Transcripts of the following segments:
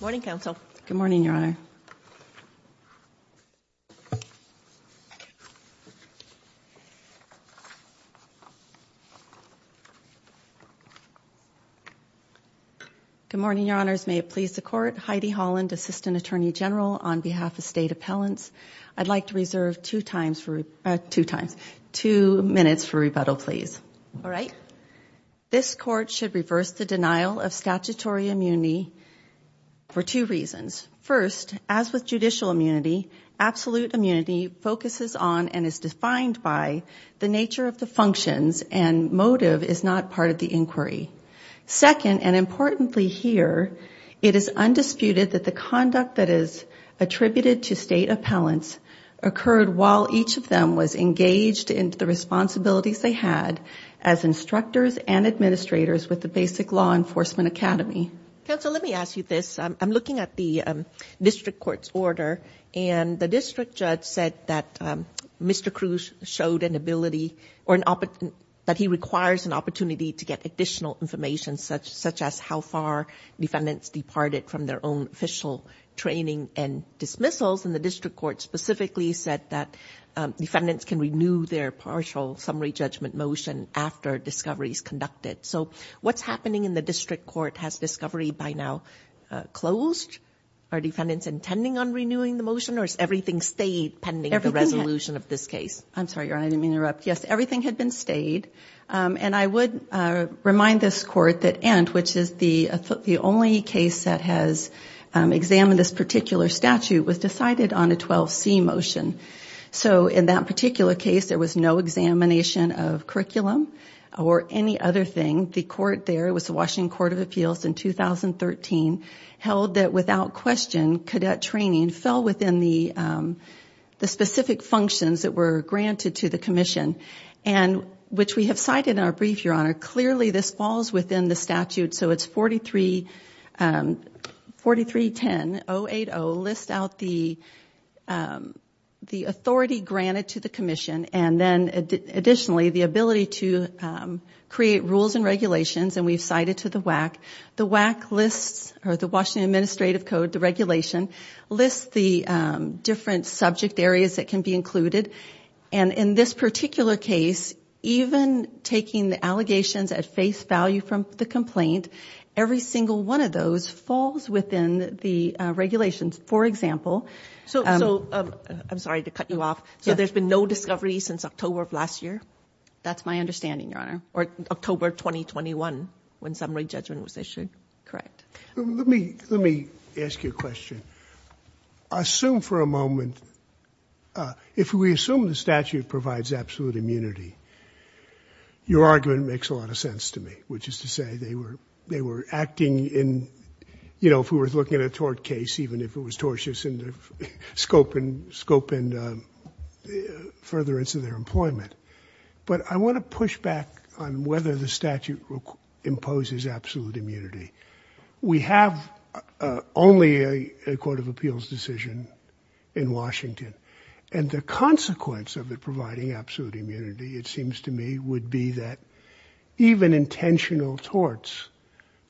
Good morning, Your Honor. Good morning, Your Honors. May it please the Court. Heidi Holland, Assistant Attorney General on behalf of State Appellants. I'd like to reserve two minutes for rebuttal, please. All right. This Court should reverse the denial of statutory immunity for two reasons. First, as with judicial immunity, absolute immunity focuses on and is defined by the nature of the functions and motive is not part of the inquiry. Second, and importantly here, it is undisputed that the conduct that is attributed to State Appellants occurred while each of them was engaged in the responsibilities they had as instructors and administrators with the Basic Law Enforcement Academy. Counsel, let me ask you this. I'm looking at the District Court's order and the District Judge said that Mr. Cruz showed an ability or that he requires an opportunity to get additional information such as how far defendants departed from their own official training and dismissals. And the District Court specifically said that defendants can renew their partial summary judgment motion after discovery is conducted. So what's happening in the District Court? Has discovery by now closed? Are defendants intending on renewing the motion or has everything stayed pending the resolution of this case? I'm sorry, Your Honor, I didn't mean to interrupt. Yes, everything had been stayed. And I would remind this Court that Ent., which is the only case that has examined this particular statute, was decided on a 12C motion. So in that particular case, there was no examination of curriculum or any other thing. The Court there, it was the Washington Court of Appeals in 2013, held that without question, cadet training fell within the specific functions that were granted to the Commission, and which we have cited in our brief, Your Honor. Clearly, this falls within the statute, so it's 4310-080, list out the authority granted to the Commission, and then additionally, the ability to create rules and regulations, and we've cited to the WAC. The WAC lists, or the Washington Administrative Code, the regulation, lists the different subject areas that can be included. And in this particular case, even taking the allegations at face value from the complaint, every single one of those falls within the regulations. For example... So, I'm sorry to cut you off. Yes. So there's been no discovery since October of last year? That's my understanding, Your Honor. Or October 2021, when summary judgment was issued? Correct. Let me ask you a question. Assume for a moment, if we assume the statute provides absolute immunity, your argument makes a lot of sense to me, which is to say they were acting in, you know, if we were looking at a tort case, even if it was tortious in the scope and furtherance of their employment. But I want to push back on whether the statute imposes absolute immunity. We have only a court of appeals decision in Washington. And the consequence of it providing absolute immunity, it seems to me, would be that even intentional torts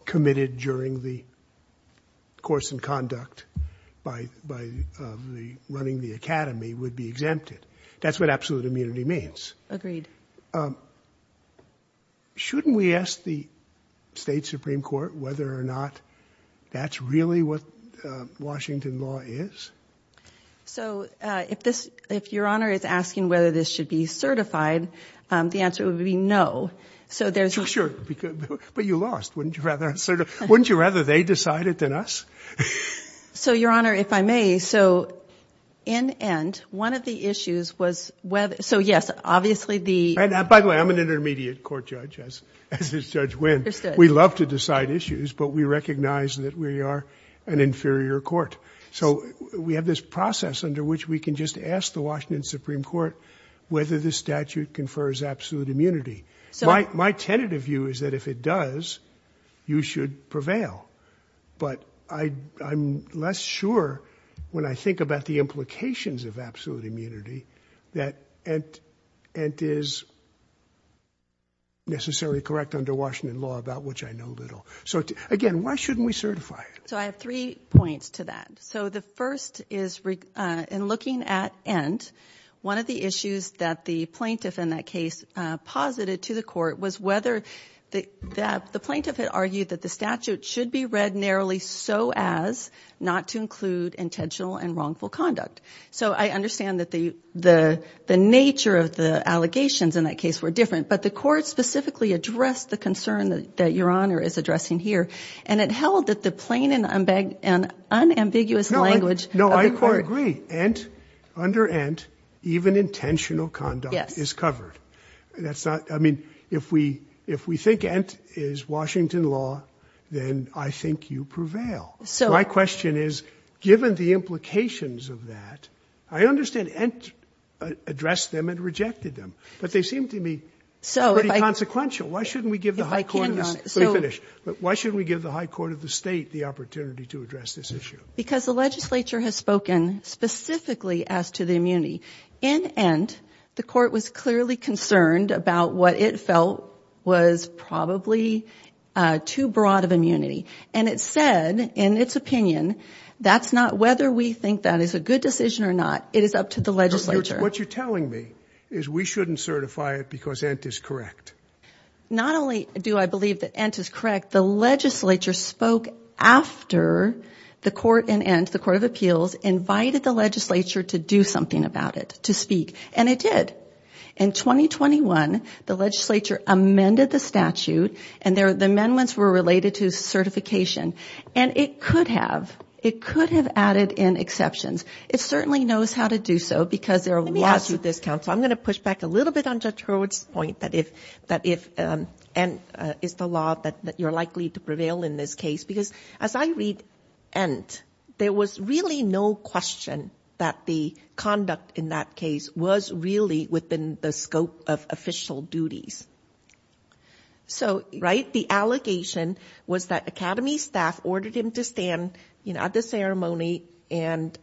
committed during the course in conduct by running the academy would be exempted. That's what absolute immunity means. Agreed. Shouldn't we ask the state Supreme Court whether or not that's really what Washington law is? So, if this, if Your Honor is asking whether this should be certified, the answer would be no. So there's... Sure. But you lost. Wouldn't you rather they decide it than us? So, Your Honor, if I may. So, in end, one of the issues was whether... So, yes, obviously the... By the way, I'm an intermediate court judge, as is Judge Wynn. Understood. We love to decide issues, but we recognize that we are an inferior court. So we have this process under which we can just ask the Washington Supreme Court whether the statute confers absolute immunity. My tentative view is that if it does, you should prevail. But I'm less sure when I think about the implications of absolute immunity that it is necessarily correct under Washington law, about which I know little. So, again, why shouldn't we certify it? So I have three points to that. So the first is, in looking at end, one of the issues that the plaintiff in that case posited to the court was whether... The plaintiff had argued that the statute should be read narrowly so as not to include intentional and wrongful conduct. So I understand that the nature of the allegations in that case were different. But the court specifically addressed the concern that Your Honor is addressing here. And it held that the plain and unambiguous language of the court... No, I agree. End, under end, even intentional conduct is covered. Yes. That's not, I mean, if we think end is Washington law, then I think you prevail. So... My question is, given the implications of that, I understand end addressed them and rejected them. But they seem to me pretty consequential. So if I... Why shouldn't we give the high court... If I can, Your Honor... Let me finish. Why shouldn't we give the high court of the state the opportunity to address this issue? Because the legislature has spoken specifically as to the immunity. In end, the court was clearly concerned about what it felt was probably too broad of immunity. And it said, in its opinion, that's not whether we think that is a good decision or not. It is up to the legislature. What you're telling me is we shouldn't certify it because end is correct. Not only do I believe that end is correct, the legislature spoke after the court in end, the court of appeals, invited the legislature to do something about it, to speak. And it did. In 2021, the legislature amended the statute, and the amendments were related to certification. And it could have. It could have added in exceptions. It certainly knows how to do so because there are lots of... Let me ask you this, counsel. I'm going to push back a little bit on Judge Hurwitz's point that if end is the law that you're likely to prevail in this case. Because as I read end, there was really no question that the conduct in that case was really within the scope of official duties. So, right? The allegation was that academy staff ordered him to stand at the ceremony and...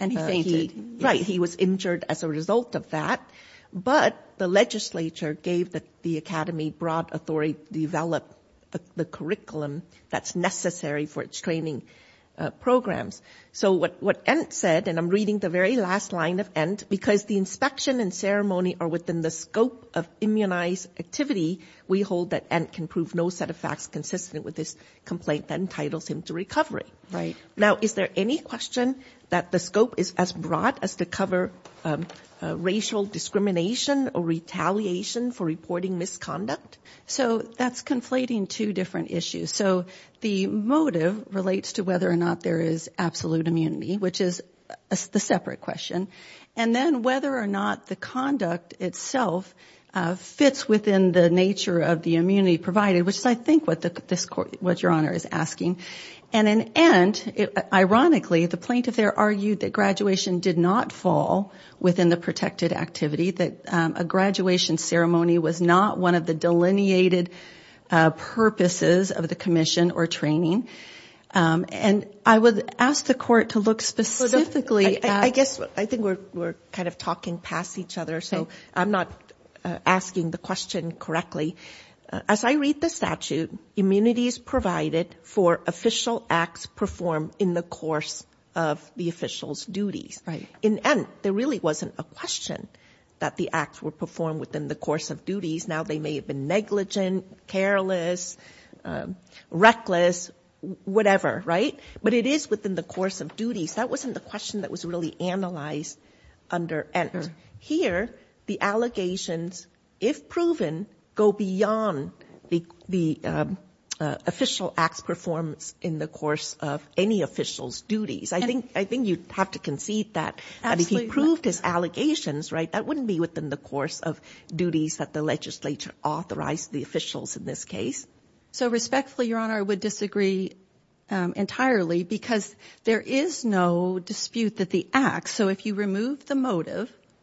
And he fainted. Right. And he was injured as a result of that. But the legislature gave the academy broad authority to develop the curriculum that's necessary for its training programs. So, what end said, and I'm reading the very last line of end, because the inspection and ceremony are within the scope of immunized activity, we hold that end can prove no set of facts consistent with this complaint that entitles him to recovery. Right. Now, is there any question that the scope is as broad as to cover racial discrimination or retaliation for reporting misconduct? So, that's conflating two different issues. So, the motive relates to whether or not there is absolute immunity, which is the separate question. And then whether or not the conduct itself fits within the nature of the immunity provided, which is, I think, what Your Honor is asking. And an end, ironically, the plaintiff there argued that graduation did not fall within the protected activity, that a graduation ceremony was not one of the delineated purposes of the commission or training. And I would ask the court to look specifically at... I guess I think we're kind of talking past each other, so I'm not asking the question correctly. As I read the statute, immunities provided for official acts performed in the course of the official's duties. In end, there really wasn't a question that the acts were performed within the course of duties. Now, they may have been negligent, careless, reckless, whatever, right? But it is within the course of duties. That wasn't the question that was really analyzed under end. But here, the allegations, if proven, go beyond the official acts performed in the course of any official's duties. I think you'd have to concede that if he proved his allegations, right, that wouldn't be within the course of duties that the legislature authorized the officials in this case. So, respectfully, Your Honor, I would disagree entirely because there is no dispute that the acts...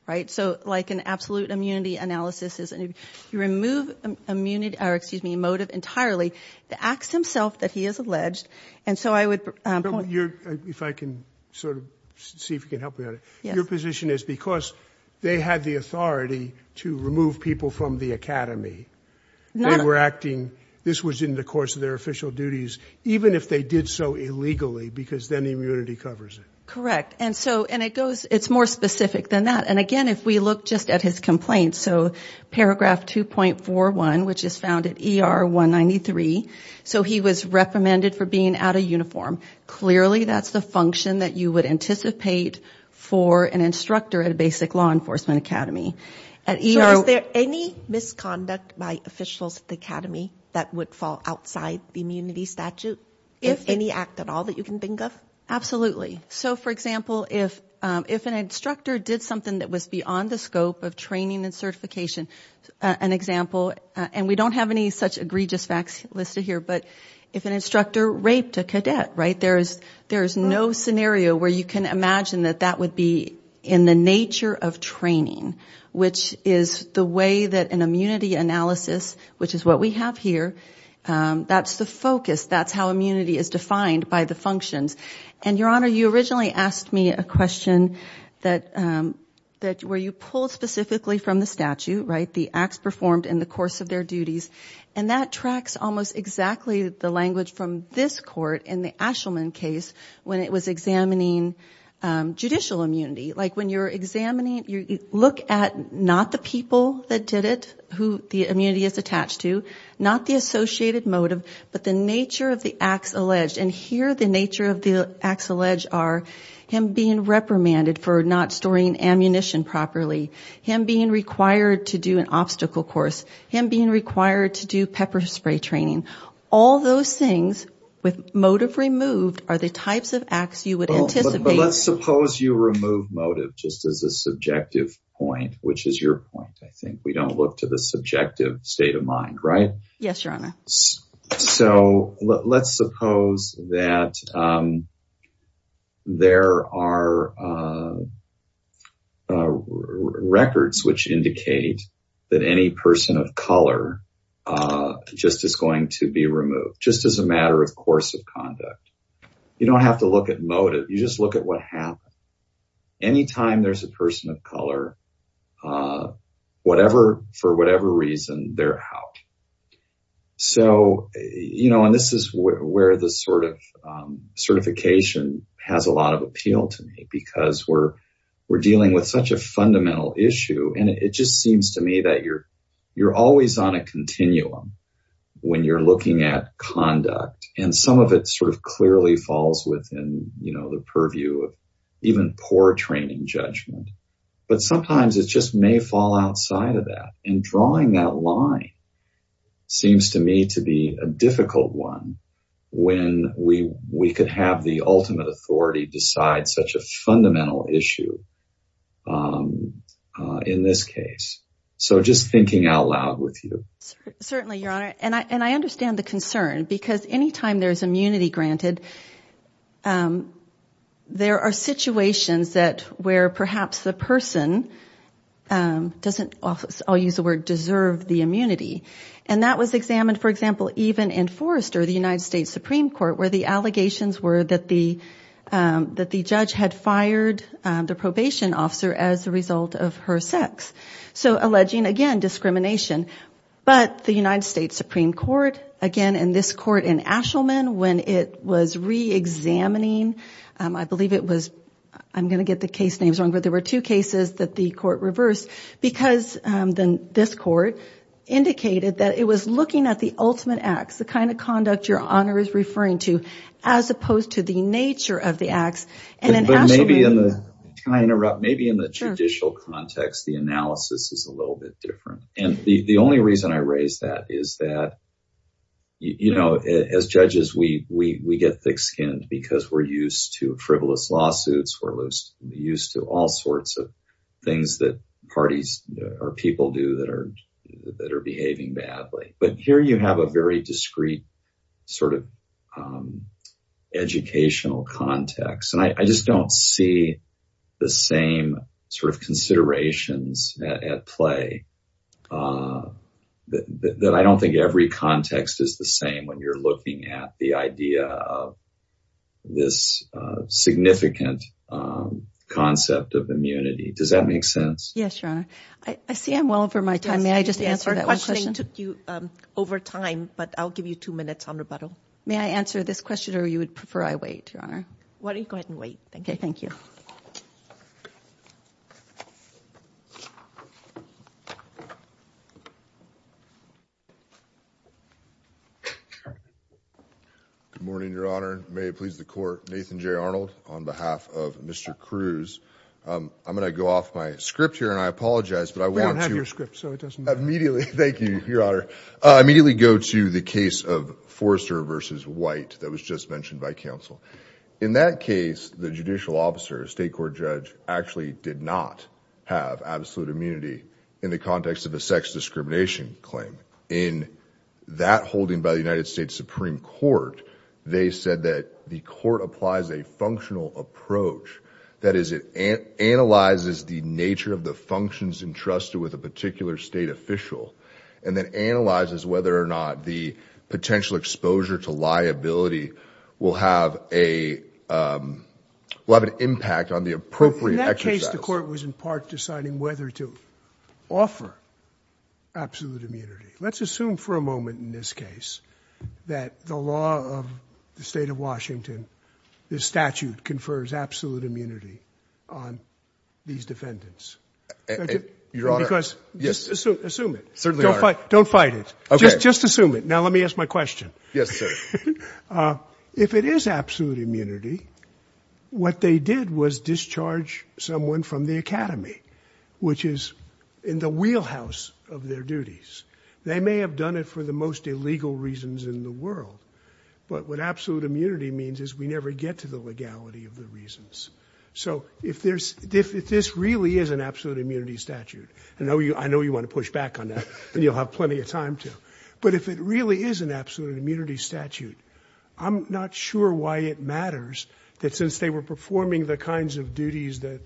Right? So, like an absolute immunity analysis is if you remove immunity or, excuse me, motive entirely, the acts himself that he has alleged, and so I would point... If I can sort of see if you can help me on it. Your position is because they had the authority to remove people from the academy, they were acting, this was in the course of their official duties, even if they did so illegally because then immunity covers it. Correct. And so, and it goes, it's more specific than that. And again, if we look just at his complaints, so paragraph 2.41, which is found at ER 193, so he was reprimanded for being out of uniform. Clearly, that's the function that you would anticipate for an instructor at a basic law enforcement academy. So, is there any misconduct by officials at the academy that would fall outside the immunity statute? If any act at all that you can think of? Absolutely. So, for example, if an instructor did something that was beyond the scope of training and certification, an example, and we don't have any such egregious facts listed here, but if an instructor raped a cadet, right, there is no scenario where you can imagine that that would be in the nature of training, which is the way that an immunity analysis, which is what we have here, that's the focus. That's how immunity is defined by the functions. And, Your Honor, you originally asked me a question where you pulled specifically from the statute, right, the acts performed in the course of their duties, and that tracks almost exactly the language from this court in the Ashelman case when it was examining judicial immunity. Like, when you're examining, you look at not the people that did it, who the immunity is attached to, not the associated motive, but the nature of the acts alleged. And here the nature of the acts alleged are him being reprimanded for not storing ammunition properly, him being required to do an obstacle course, him being required to do pepper spray training. All those things with motive removed are the types of acts you would anticipate. But let's suppose you remove motive just as a subjective point, which is your point. I think we don't look to the subjective state of mind, right? Yes, Your Honor. So let's suppose that there are records which indicate that any person of color just is going to be removed, just as a matter of course of conduct. You don't have to look at motive. You just look at what happened. Anytime there's a person of color, for whatever reason, they're out. So, you know, and this is where the sort of certification has a lot of appeal to me, because we're dealing with such a fundamental issue. And it just seems to me that you're always on a continuum when you're looking at conduct. And some of it sort of clearly falls within the purview of even poor training judgment. But sometimes it just may fall outside of that. And drawing that line seems to me to be a difficult one when we could have the ultimate authority decide such a fundamental issue in this case. So just thinking out loud with you. Certainly, Your Honor. And I understand the concern, because anytime there's immunity granted, there are situations where perhaps the person doesn't, I'll use the word, deserve the immunity. And that was examined, for example, even in Forrester, the United States Supreme Court, where the allegations were that the judge had fired the probation officer as a result of her sex. So alleging, again, discrimination. But the United States Supreme Court, again, in this court in Ashelman, when it was reexamining, I believe it was, I'm going to get the case names wrong, but there were two cases that the court reversed, because this court indicated that it was looking at the ultimate acts, the kind of conduct Your Honor is referring to, as opposed to the nature of the acts. Can I interrupt? Maybe in the judicial context, the analysis is a little bit different. And the only reason I raise that is that, you know, as judges, we get thick skinned because we're used to frivolous lawsuits. We're used to all sorts of things that parties or people do that are behaving badly. But here you have a very discreet sort of educational context. And I just don't see the same sort of considerations at play. I don't think every context is the same when you're looking at the idea of this significant concept of immunity. Does that make sense? Yes, Your Honor. I see I'm well over my time. May I just answer that one question? Our questioning took you over time, but I'll give you two minutes on rebuttal. May I answer this question or you would prefer I wait, Your Honor? Why don't you go ahead and wait? Okay, thank you. Good morning, Your Honor. May it please the Court. Nathan J. Arnold on behalf of Mr. Cruz. I'm going to go off my script here, and I apologize, but I want to— We don't have your script, so it doesn't matter. Thank you, Your Honor. I immediately go to the case of Forrester v. White that was just mentioned by counsel. In that case, the judicial officer, a state court judge, actually did not have absolute immunity in the context of a sex discrimination claim. In that holding by the United States Supreme Court, they said that the court applies a functional approach. That is, it analyzes the nature of the functions entrusted with a particular state official and then analyzes whether or not the potential exposure to liability will have a—will have an impact on the appropriate exercise. In that case, the court was in part deciding whether to offer absolute immunity. Let's assume for a moment in this case that the law of the state of Washington, this statute, confers absolute immunity on these defendants. Your Honor— Because—assume it. Certainly, Your Honor. Don't fight it. Okay. Just assume it. Now let me ask my question. Yes, sir. If it is absolute immunity, what they did was discharge someone from the academy, which is in the wheelhouse of their duties. They may have done it for the most illegal reasons in the world, but what absolute immunity means is we never get to the legality of the reasons. So if there's—if this really is an absolute immunity statute—and I know you want to push back on that, and you'll have plenty of time to— but if it really is an absolute immunity statute, I'm not sure why it matters that since they were performing the kinds of duties that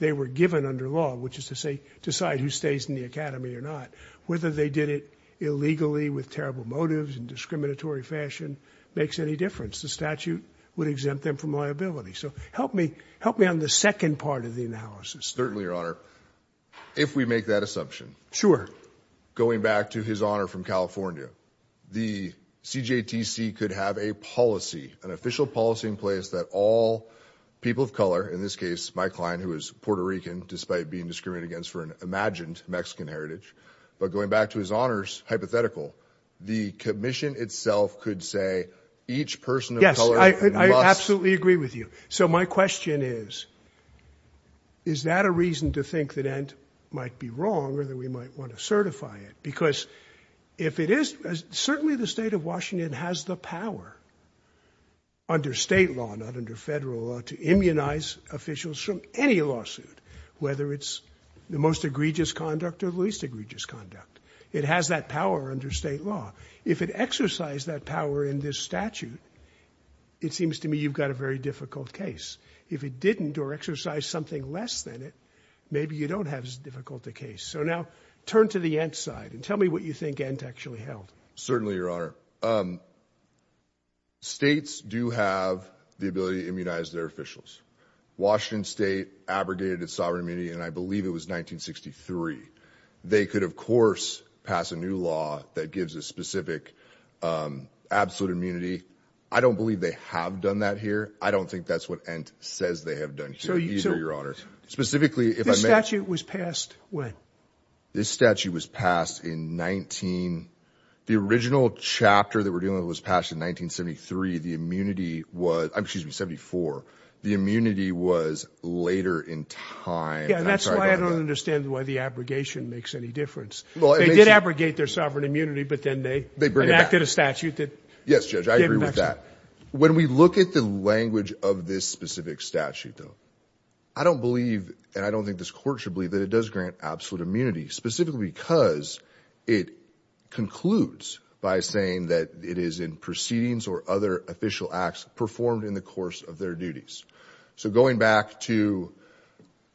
they were given under law, which is to say, decide who stays in the academy or not, whether they did it illegally, with terrible motives, in discriminatory fashion, makes any difference. The statute would exempt them from liability. So help me on the second part of the analysis. Certainly, Your Honor. If we make that assumption— Sure. Going back to his honor from California, the CJTC could have a policy, an official policy in place that all people of color— in this case, my client, who is Puerto Rican, despite being discriminated against for an imagined Mexican heritage— but going back to his honors hypothetical, the commission itself could say each person of color must— I absolutely agree with you. So my question is, is that a reason to think that Ent might be wrong or that we might want to certify it? Because if it is—certainly the state of Washington has the power under state law, not under federal law, to immunize officials from any lawsuit, whether it's the most egregious conduct or the least egregious conduct. It has that power under state law. If it exercised that power in this statute, it seems to me you've got a very difficult case. If it didn't or exercised something less than it, maybe you don't have as difficult a case. So now turn to the Ent side and tell me what you think Ent actually held. Certainly, Your Honor. States do have the ability to immunize their officials. Washington State abrogated its sovereign immunity, and I believe it was 1963. They could, of course, pass a new law that gives a specific absolute immunity. I don't believe they have done that here. I don't think that's what Ent says they have done here either, Your Honor. Specifically, if I may— This statute was passed when? This statute was passed in 19—the original chapter that we're dealing with was passed in 1973. The immunity was—excuse me, 74. The immunity was later in time. That's why I don't understand why the abrogation makes any difference. They did abrogate their sovereign immunity, but then they enacted a statute that— Yes, Judge, I agree with that. When we look at the language of this specific statute, though, I don't believe, and I don't think this Court should believe, that it does grant absolute immunity, specifically because it concludes by saying that it is in proceedings or other official acts performed in the course of their duties. So going back to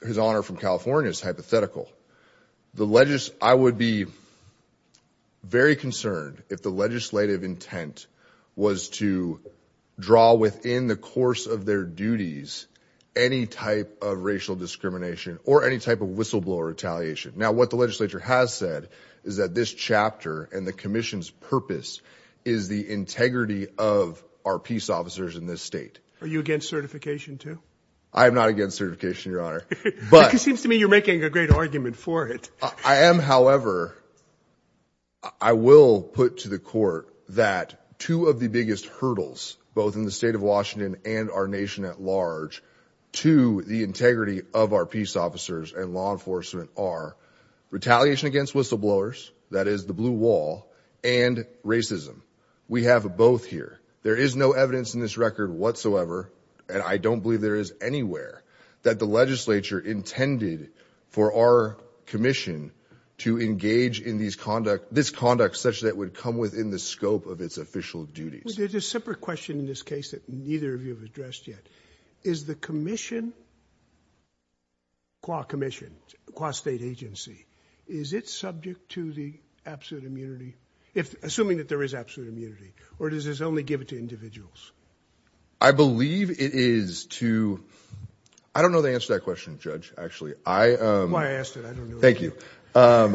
his Honor from California's hypothetical, I would be very concerned if the legislative intent was to draw within the course of their duties any type of racial discrimination or any type of whistleblower retaliation. Now, what the legislature has said is that this chapter and the Commission's purpose is the integrity of our peace officers in this state. Are you against certification, too? I am not against certification, Your Honor. But— It seems to me you're making a great argument for it. I am. However, I will put to the Court that two of the biggest hurdles, both in the state of Washington and our nation at large, to the integrity of our peace officers and law enforcement are retaliation against whistleblowers, that is the blue wall, and racism. We have both here. There is no evidence in this record whatsoever, and I don't believe there is anywhere, that the legislature intended for our Commission to engage in this conduct such that it would come within the scope of its official duties. Well, there's a separate question in this case that neither of you have addressed yet. Is the Commission, QA Commission, QA State Agency, is it subject to the absolute immunity, assuming that there is absolute immunity, or does this only give it to individuals? I believe it is to—I don't know the answer to that question, Judge, actually. That's why I asked it. I don't know. Thank you. I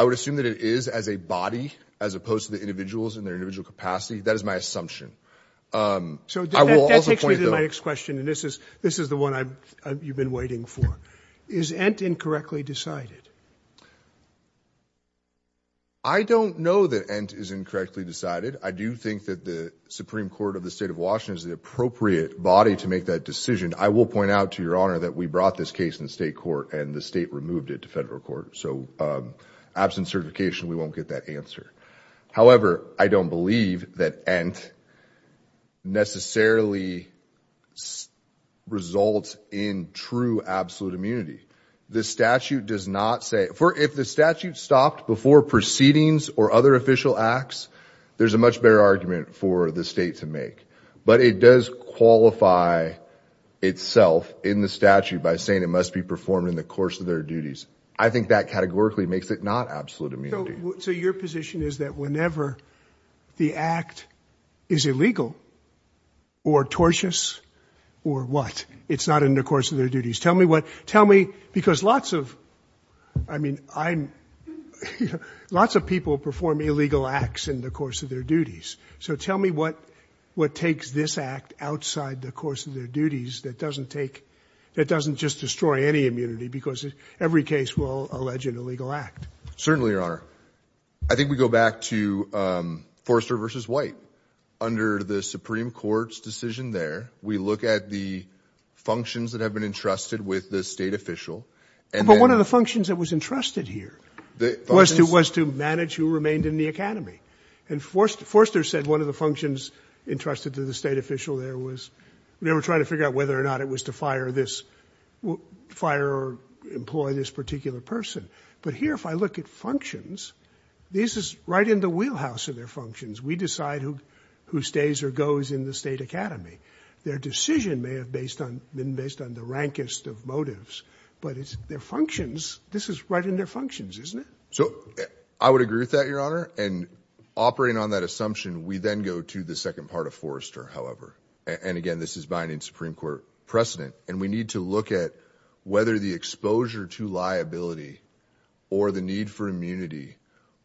would assume that it is as a body as opposed to the individuals in their individual capacity. That is my assumption. So that takes me to my next question, and this is the one you've been waiting for. Is Ent incorrectly decided? I don't know that Ent is incorrectly decided. I do think that the Supreme Court of the State of Washington is the appropriate body to make that decision. I will point out to Your Honor that we brought this case in state court and the state removed it to federal court. So absent certification, we won't get that answer. However, I don't believe that Ent necessarily results in true absolute immunity. The statute does not say—if the statute stopped before proceedings or other official acts, there's a much better argument for the state to make. But it does qualify itself in the statute by saying it must be performed in the course of their duties. I think that categorically makes it not absolute immunity. So your position is that whenever the act is illegal or tortious or what, it's not in the course of their duties. Tell me what—because lots of people perform illegal acts in the course of their duties. So tell me what takes this act outside the course of their duties that doesn't just destroy any immunity because every case will allege an illegal act. Certainly, Your Honor. I think we go back to Forrester v. White. Under the Supreme Court's decision there, we look at the functions that have been entrusted with the state official. But one of the functions that was entrusted here was to manage who remained in the academy. And Forrester said one of the functions entrusted to the state official there was— they were trying to figure out whether or not it was to fire this—fire or employ this particular person. But here, if I look at functions, this is right in the wheelhouse of their functions. We decide who stays or goes in the state academy. Their decision may have been based on the rankest of motives, but it's their functions—this is right in their functions, isn't it? So I would agree with that, Your Honor. And operating on that assumption, we then go to the second part of Forrester, however. And again, this is binding Supreme Court precedent. And we need to look at whether the exposure to liability or the need for immunity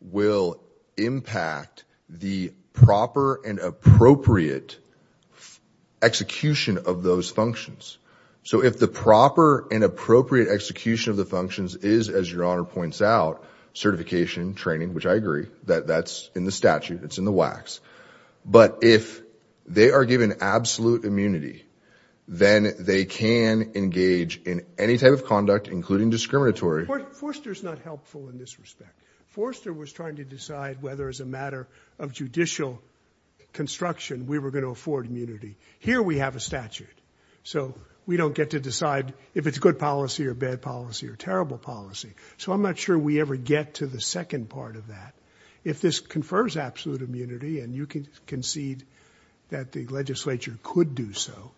will impact the proper and appropriate execution of those functions. So if the proper and appropriate execution of the functions is, as Your Honor points out, certification, training—which I agree, that's in the statute, it's in the WACs— but if they are given absolute immunity, then they can engage in any type of conduct, including discriminatory. Forrester's not helpful in this respect. Forrester was trying to decide whether, as a matter of judicial construction, we were going to afford immunity. Here we have a statute. So we don't get to decide if it's good policy or bad policy or terrible policy. So I'm not sure we ever get to the second part of that. If this confers absolute immunity and you concede that the legislature could do so,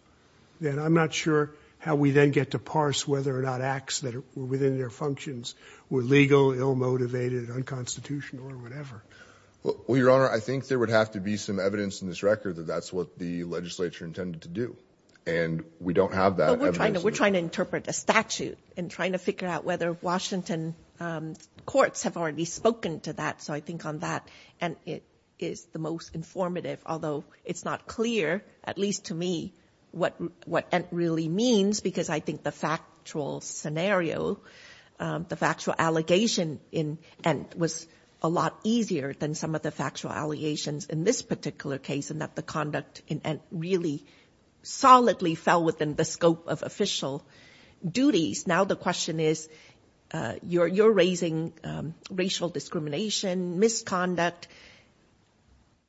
then I'm not sure how we then get to parse whether or not acts that were within their functions were legal, ill-motivated, unconstitutional, or whatever. Well, Your Honor, I think there would have to be some evidence in this record that that's what the legislature intended to do. And we don't have that evidence. But we're trying to interpret a statute and trying to figure out whether Washington courts have already spoken to that. So I think on that, Ent is the most informative, although it's not clear, at least to me, what Ent really means, because I think the factual scenario, the factual allegation in Ent was a lot easier than some of the factual allegations in this particular case in that the conduct in Ent really solidly fell within the scope of official duties. Now the question is, you're raising racial discrimination, misconduct.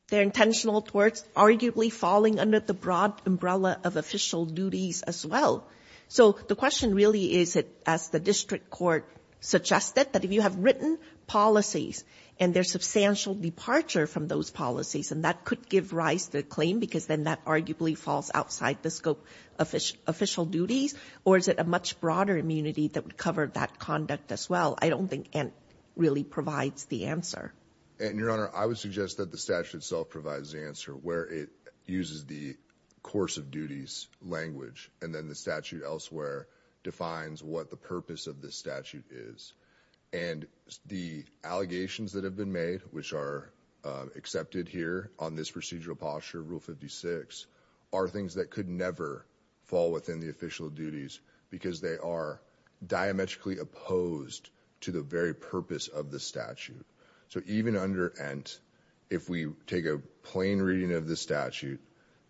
They're intentional towards arguably falling under the broad umbrella of official duties as well. So the question really is, as the district court suggested, that if you have written policies and there's substantial departure from those policies, and that could give rise to a claim because then that arguably falls outside the scope of official duties, or is it a much broader immunity that would cover that conduct as well? I don't think Ent really provides the answer. And, Your Honor, I would suggest that the statute itself provides the answer where it uses the course of duties language, and then the statute elsewhere defines what the purpose of the statute is. And the allegations that have been made, which are accepted here on this procedural posture, Rule 56, are things that could never fall within the official duties because they are diametrically opposed to the very purpose of the statute. So even under Ent, if we take a plain reading of the statute,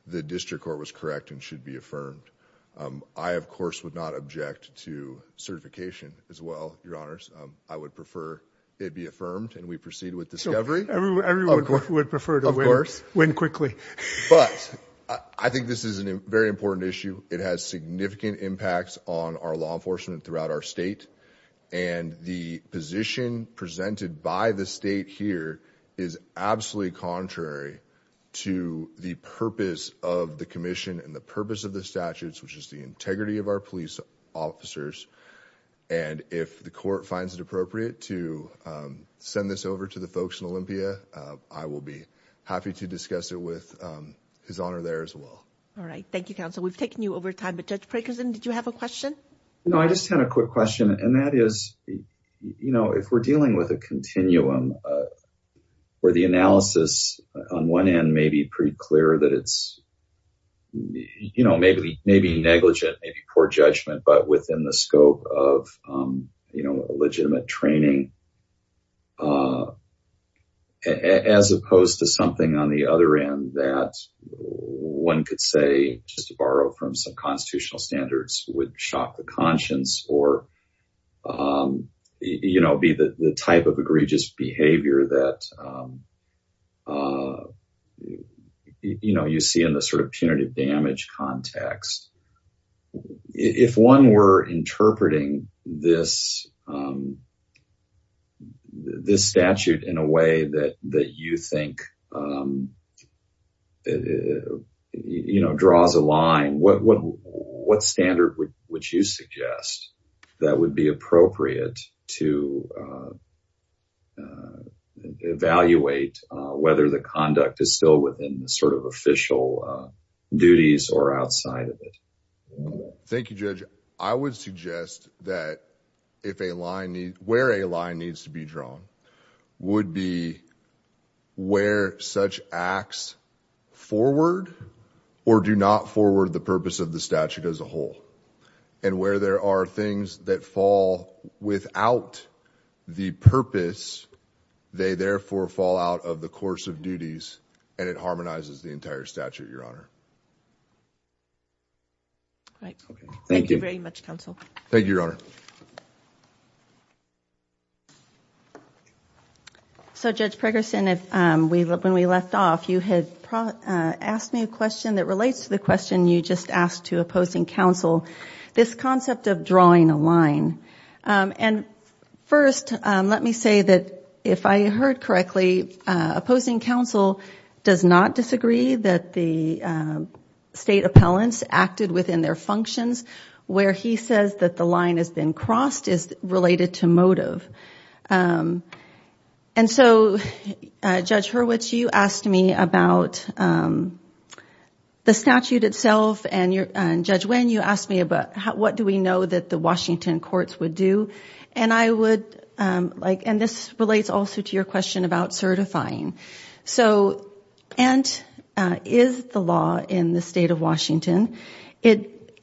the district court was correct and should be affirmed. I, of course, would not object to certification as well, Your Honors. I would prefer it be affirmed and we proceed with discovery. Everyone would prefer to win quickly. But I think this is a very important issue. It has significant impacts on our law enforcement throughout our state. And the position presented by the state here is absolutely contrary to the purpose of the commission and the purpose of the statutes, which is the integrity of our police officers. And if the court finds it appropriate to send this over to the folks in Olympia, I will be happy to discuss it with His Honor there as well. All right. Thank you, Counsel. We've taken you over time. But, Judge Prekerson, did you have a question? No, I just had a quick question. And that is, you know, if we're dealing with a continuum where the analysis on one end may be pretty clear that it's, you know, maybe negligent, maybe poor judgment, but within the scope of, you know, a legitimate training as opposed to something on the other end that one could say, just to borrow from some constitutional standards, would shock the conscience or, you know, be the type of egregious behavior that, you know, you see in the sort of punitive damage context. If one were interpreting this statute in a way that you think, you know, draws a line, what standard would you suggest that would be appropriate to evaluate whether the conduct is still within the sort of official duties or outside of it? Thank you, Judge. I would suggest that where a line needs to be drawn would be where such acts forward or do not forward the purpose of the statute as a whole. And where there are things that fall without the purpose, they therefore fall out of the course of duties, and it harmonizes the entire statute, Your Honor. Thank you very much, Counsel. Thank you, Your Honor. So, Judge Pregerson, when we left off, you had asked me a question that relates to the question you just asked to opposing counsel, this concept of drawing a line. And first, let me say that if I heard correctly, opposing counsel does not disagree that the state appellants acted within their functions, where he says that the line has been crossed is related to motive. And so, Judge Hurwitz, you asked me about the statute itself, and Judge Winn, you asked me about what do we know that the Washington courts would do, and I would like, and this relates also to your question about certifying. So, and is the law in the state of Washington,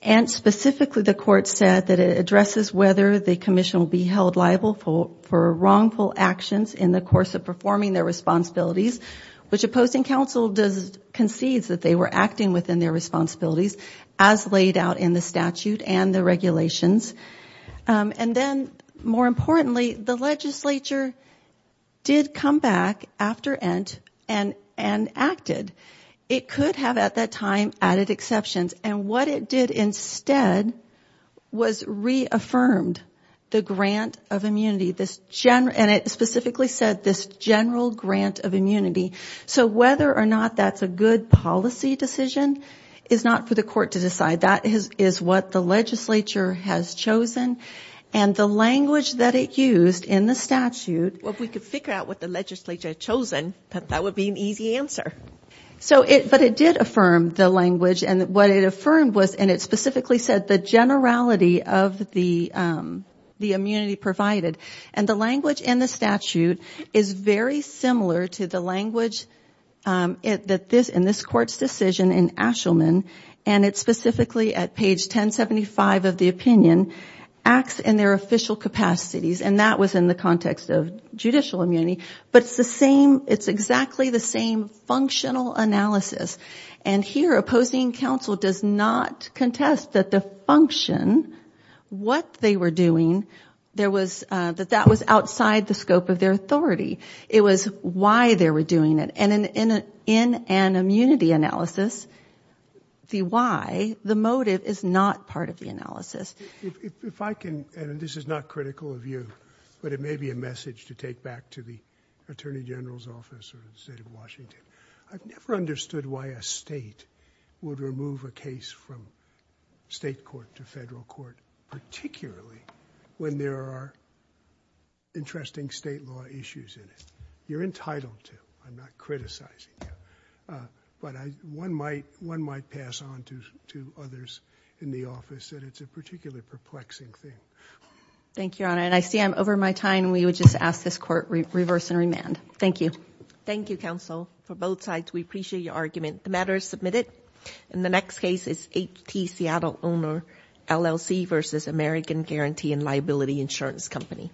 and specifically the court said that it addresses whether the commission will be held liable for wrongful actions in the course of performing their responsibilities, which opposing counsel concedes that they were acting within their responsibilities as laid out in the statute and the regulations. And then, more importantly, the legislature did come back after Ent. and acted. It could have at that time added exceptions, and what it did instead was reaffirmed the grant of immunity, and it specifically said this general grant of immunity. So whether or not that's a good policy decision is not for the court to decide. That is what the legislature has chosen, and the language that it used in the statute. Well, if we could figure out what the legislature had chosen, that would be an easy answer. So, but it did affirm the language, and what it affirmed was, and it specifically said the generality of the immunity provided, and the language in the statute is very similar to the language in this court's decision in Ashelman, and it specifically, at page 1075 of the opinion, acts in their official capacities, and that was in the context of judicial immunity, but it's the same, it's exactly the same functional analysis. And here, opposing counsel does not contest that the function, what they were doing, that that was outside the scope of their authority. It was why they were doing it, and in an immunity analysis, the why, the motive, is not part of the analysis. If I can, and this is not critical of you, but it may be a message to take back to the Attorney General's office or the state of Washington, I've never understood why a state would remove a case from state court to federal court, particularly when there are interesting state law issues in it. You're entitled to, I'm not criticizing you, but one might pass on to others in the office that it's a particularly perplexing thing. Thank you, Your Honor, and I see I'm over my time. We would just ask this court reverse and remand. Thank you. For both sides, we appreciate your argument. The matter is submitted. And the next case is H.T. Seattle Owner, LLC v. American Guarantee and Liability Insurance Company.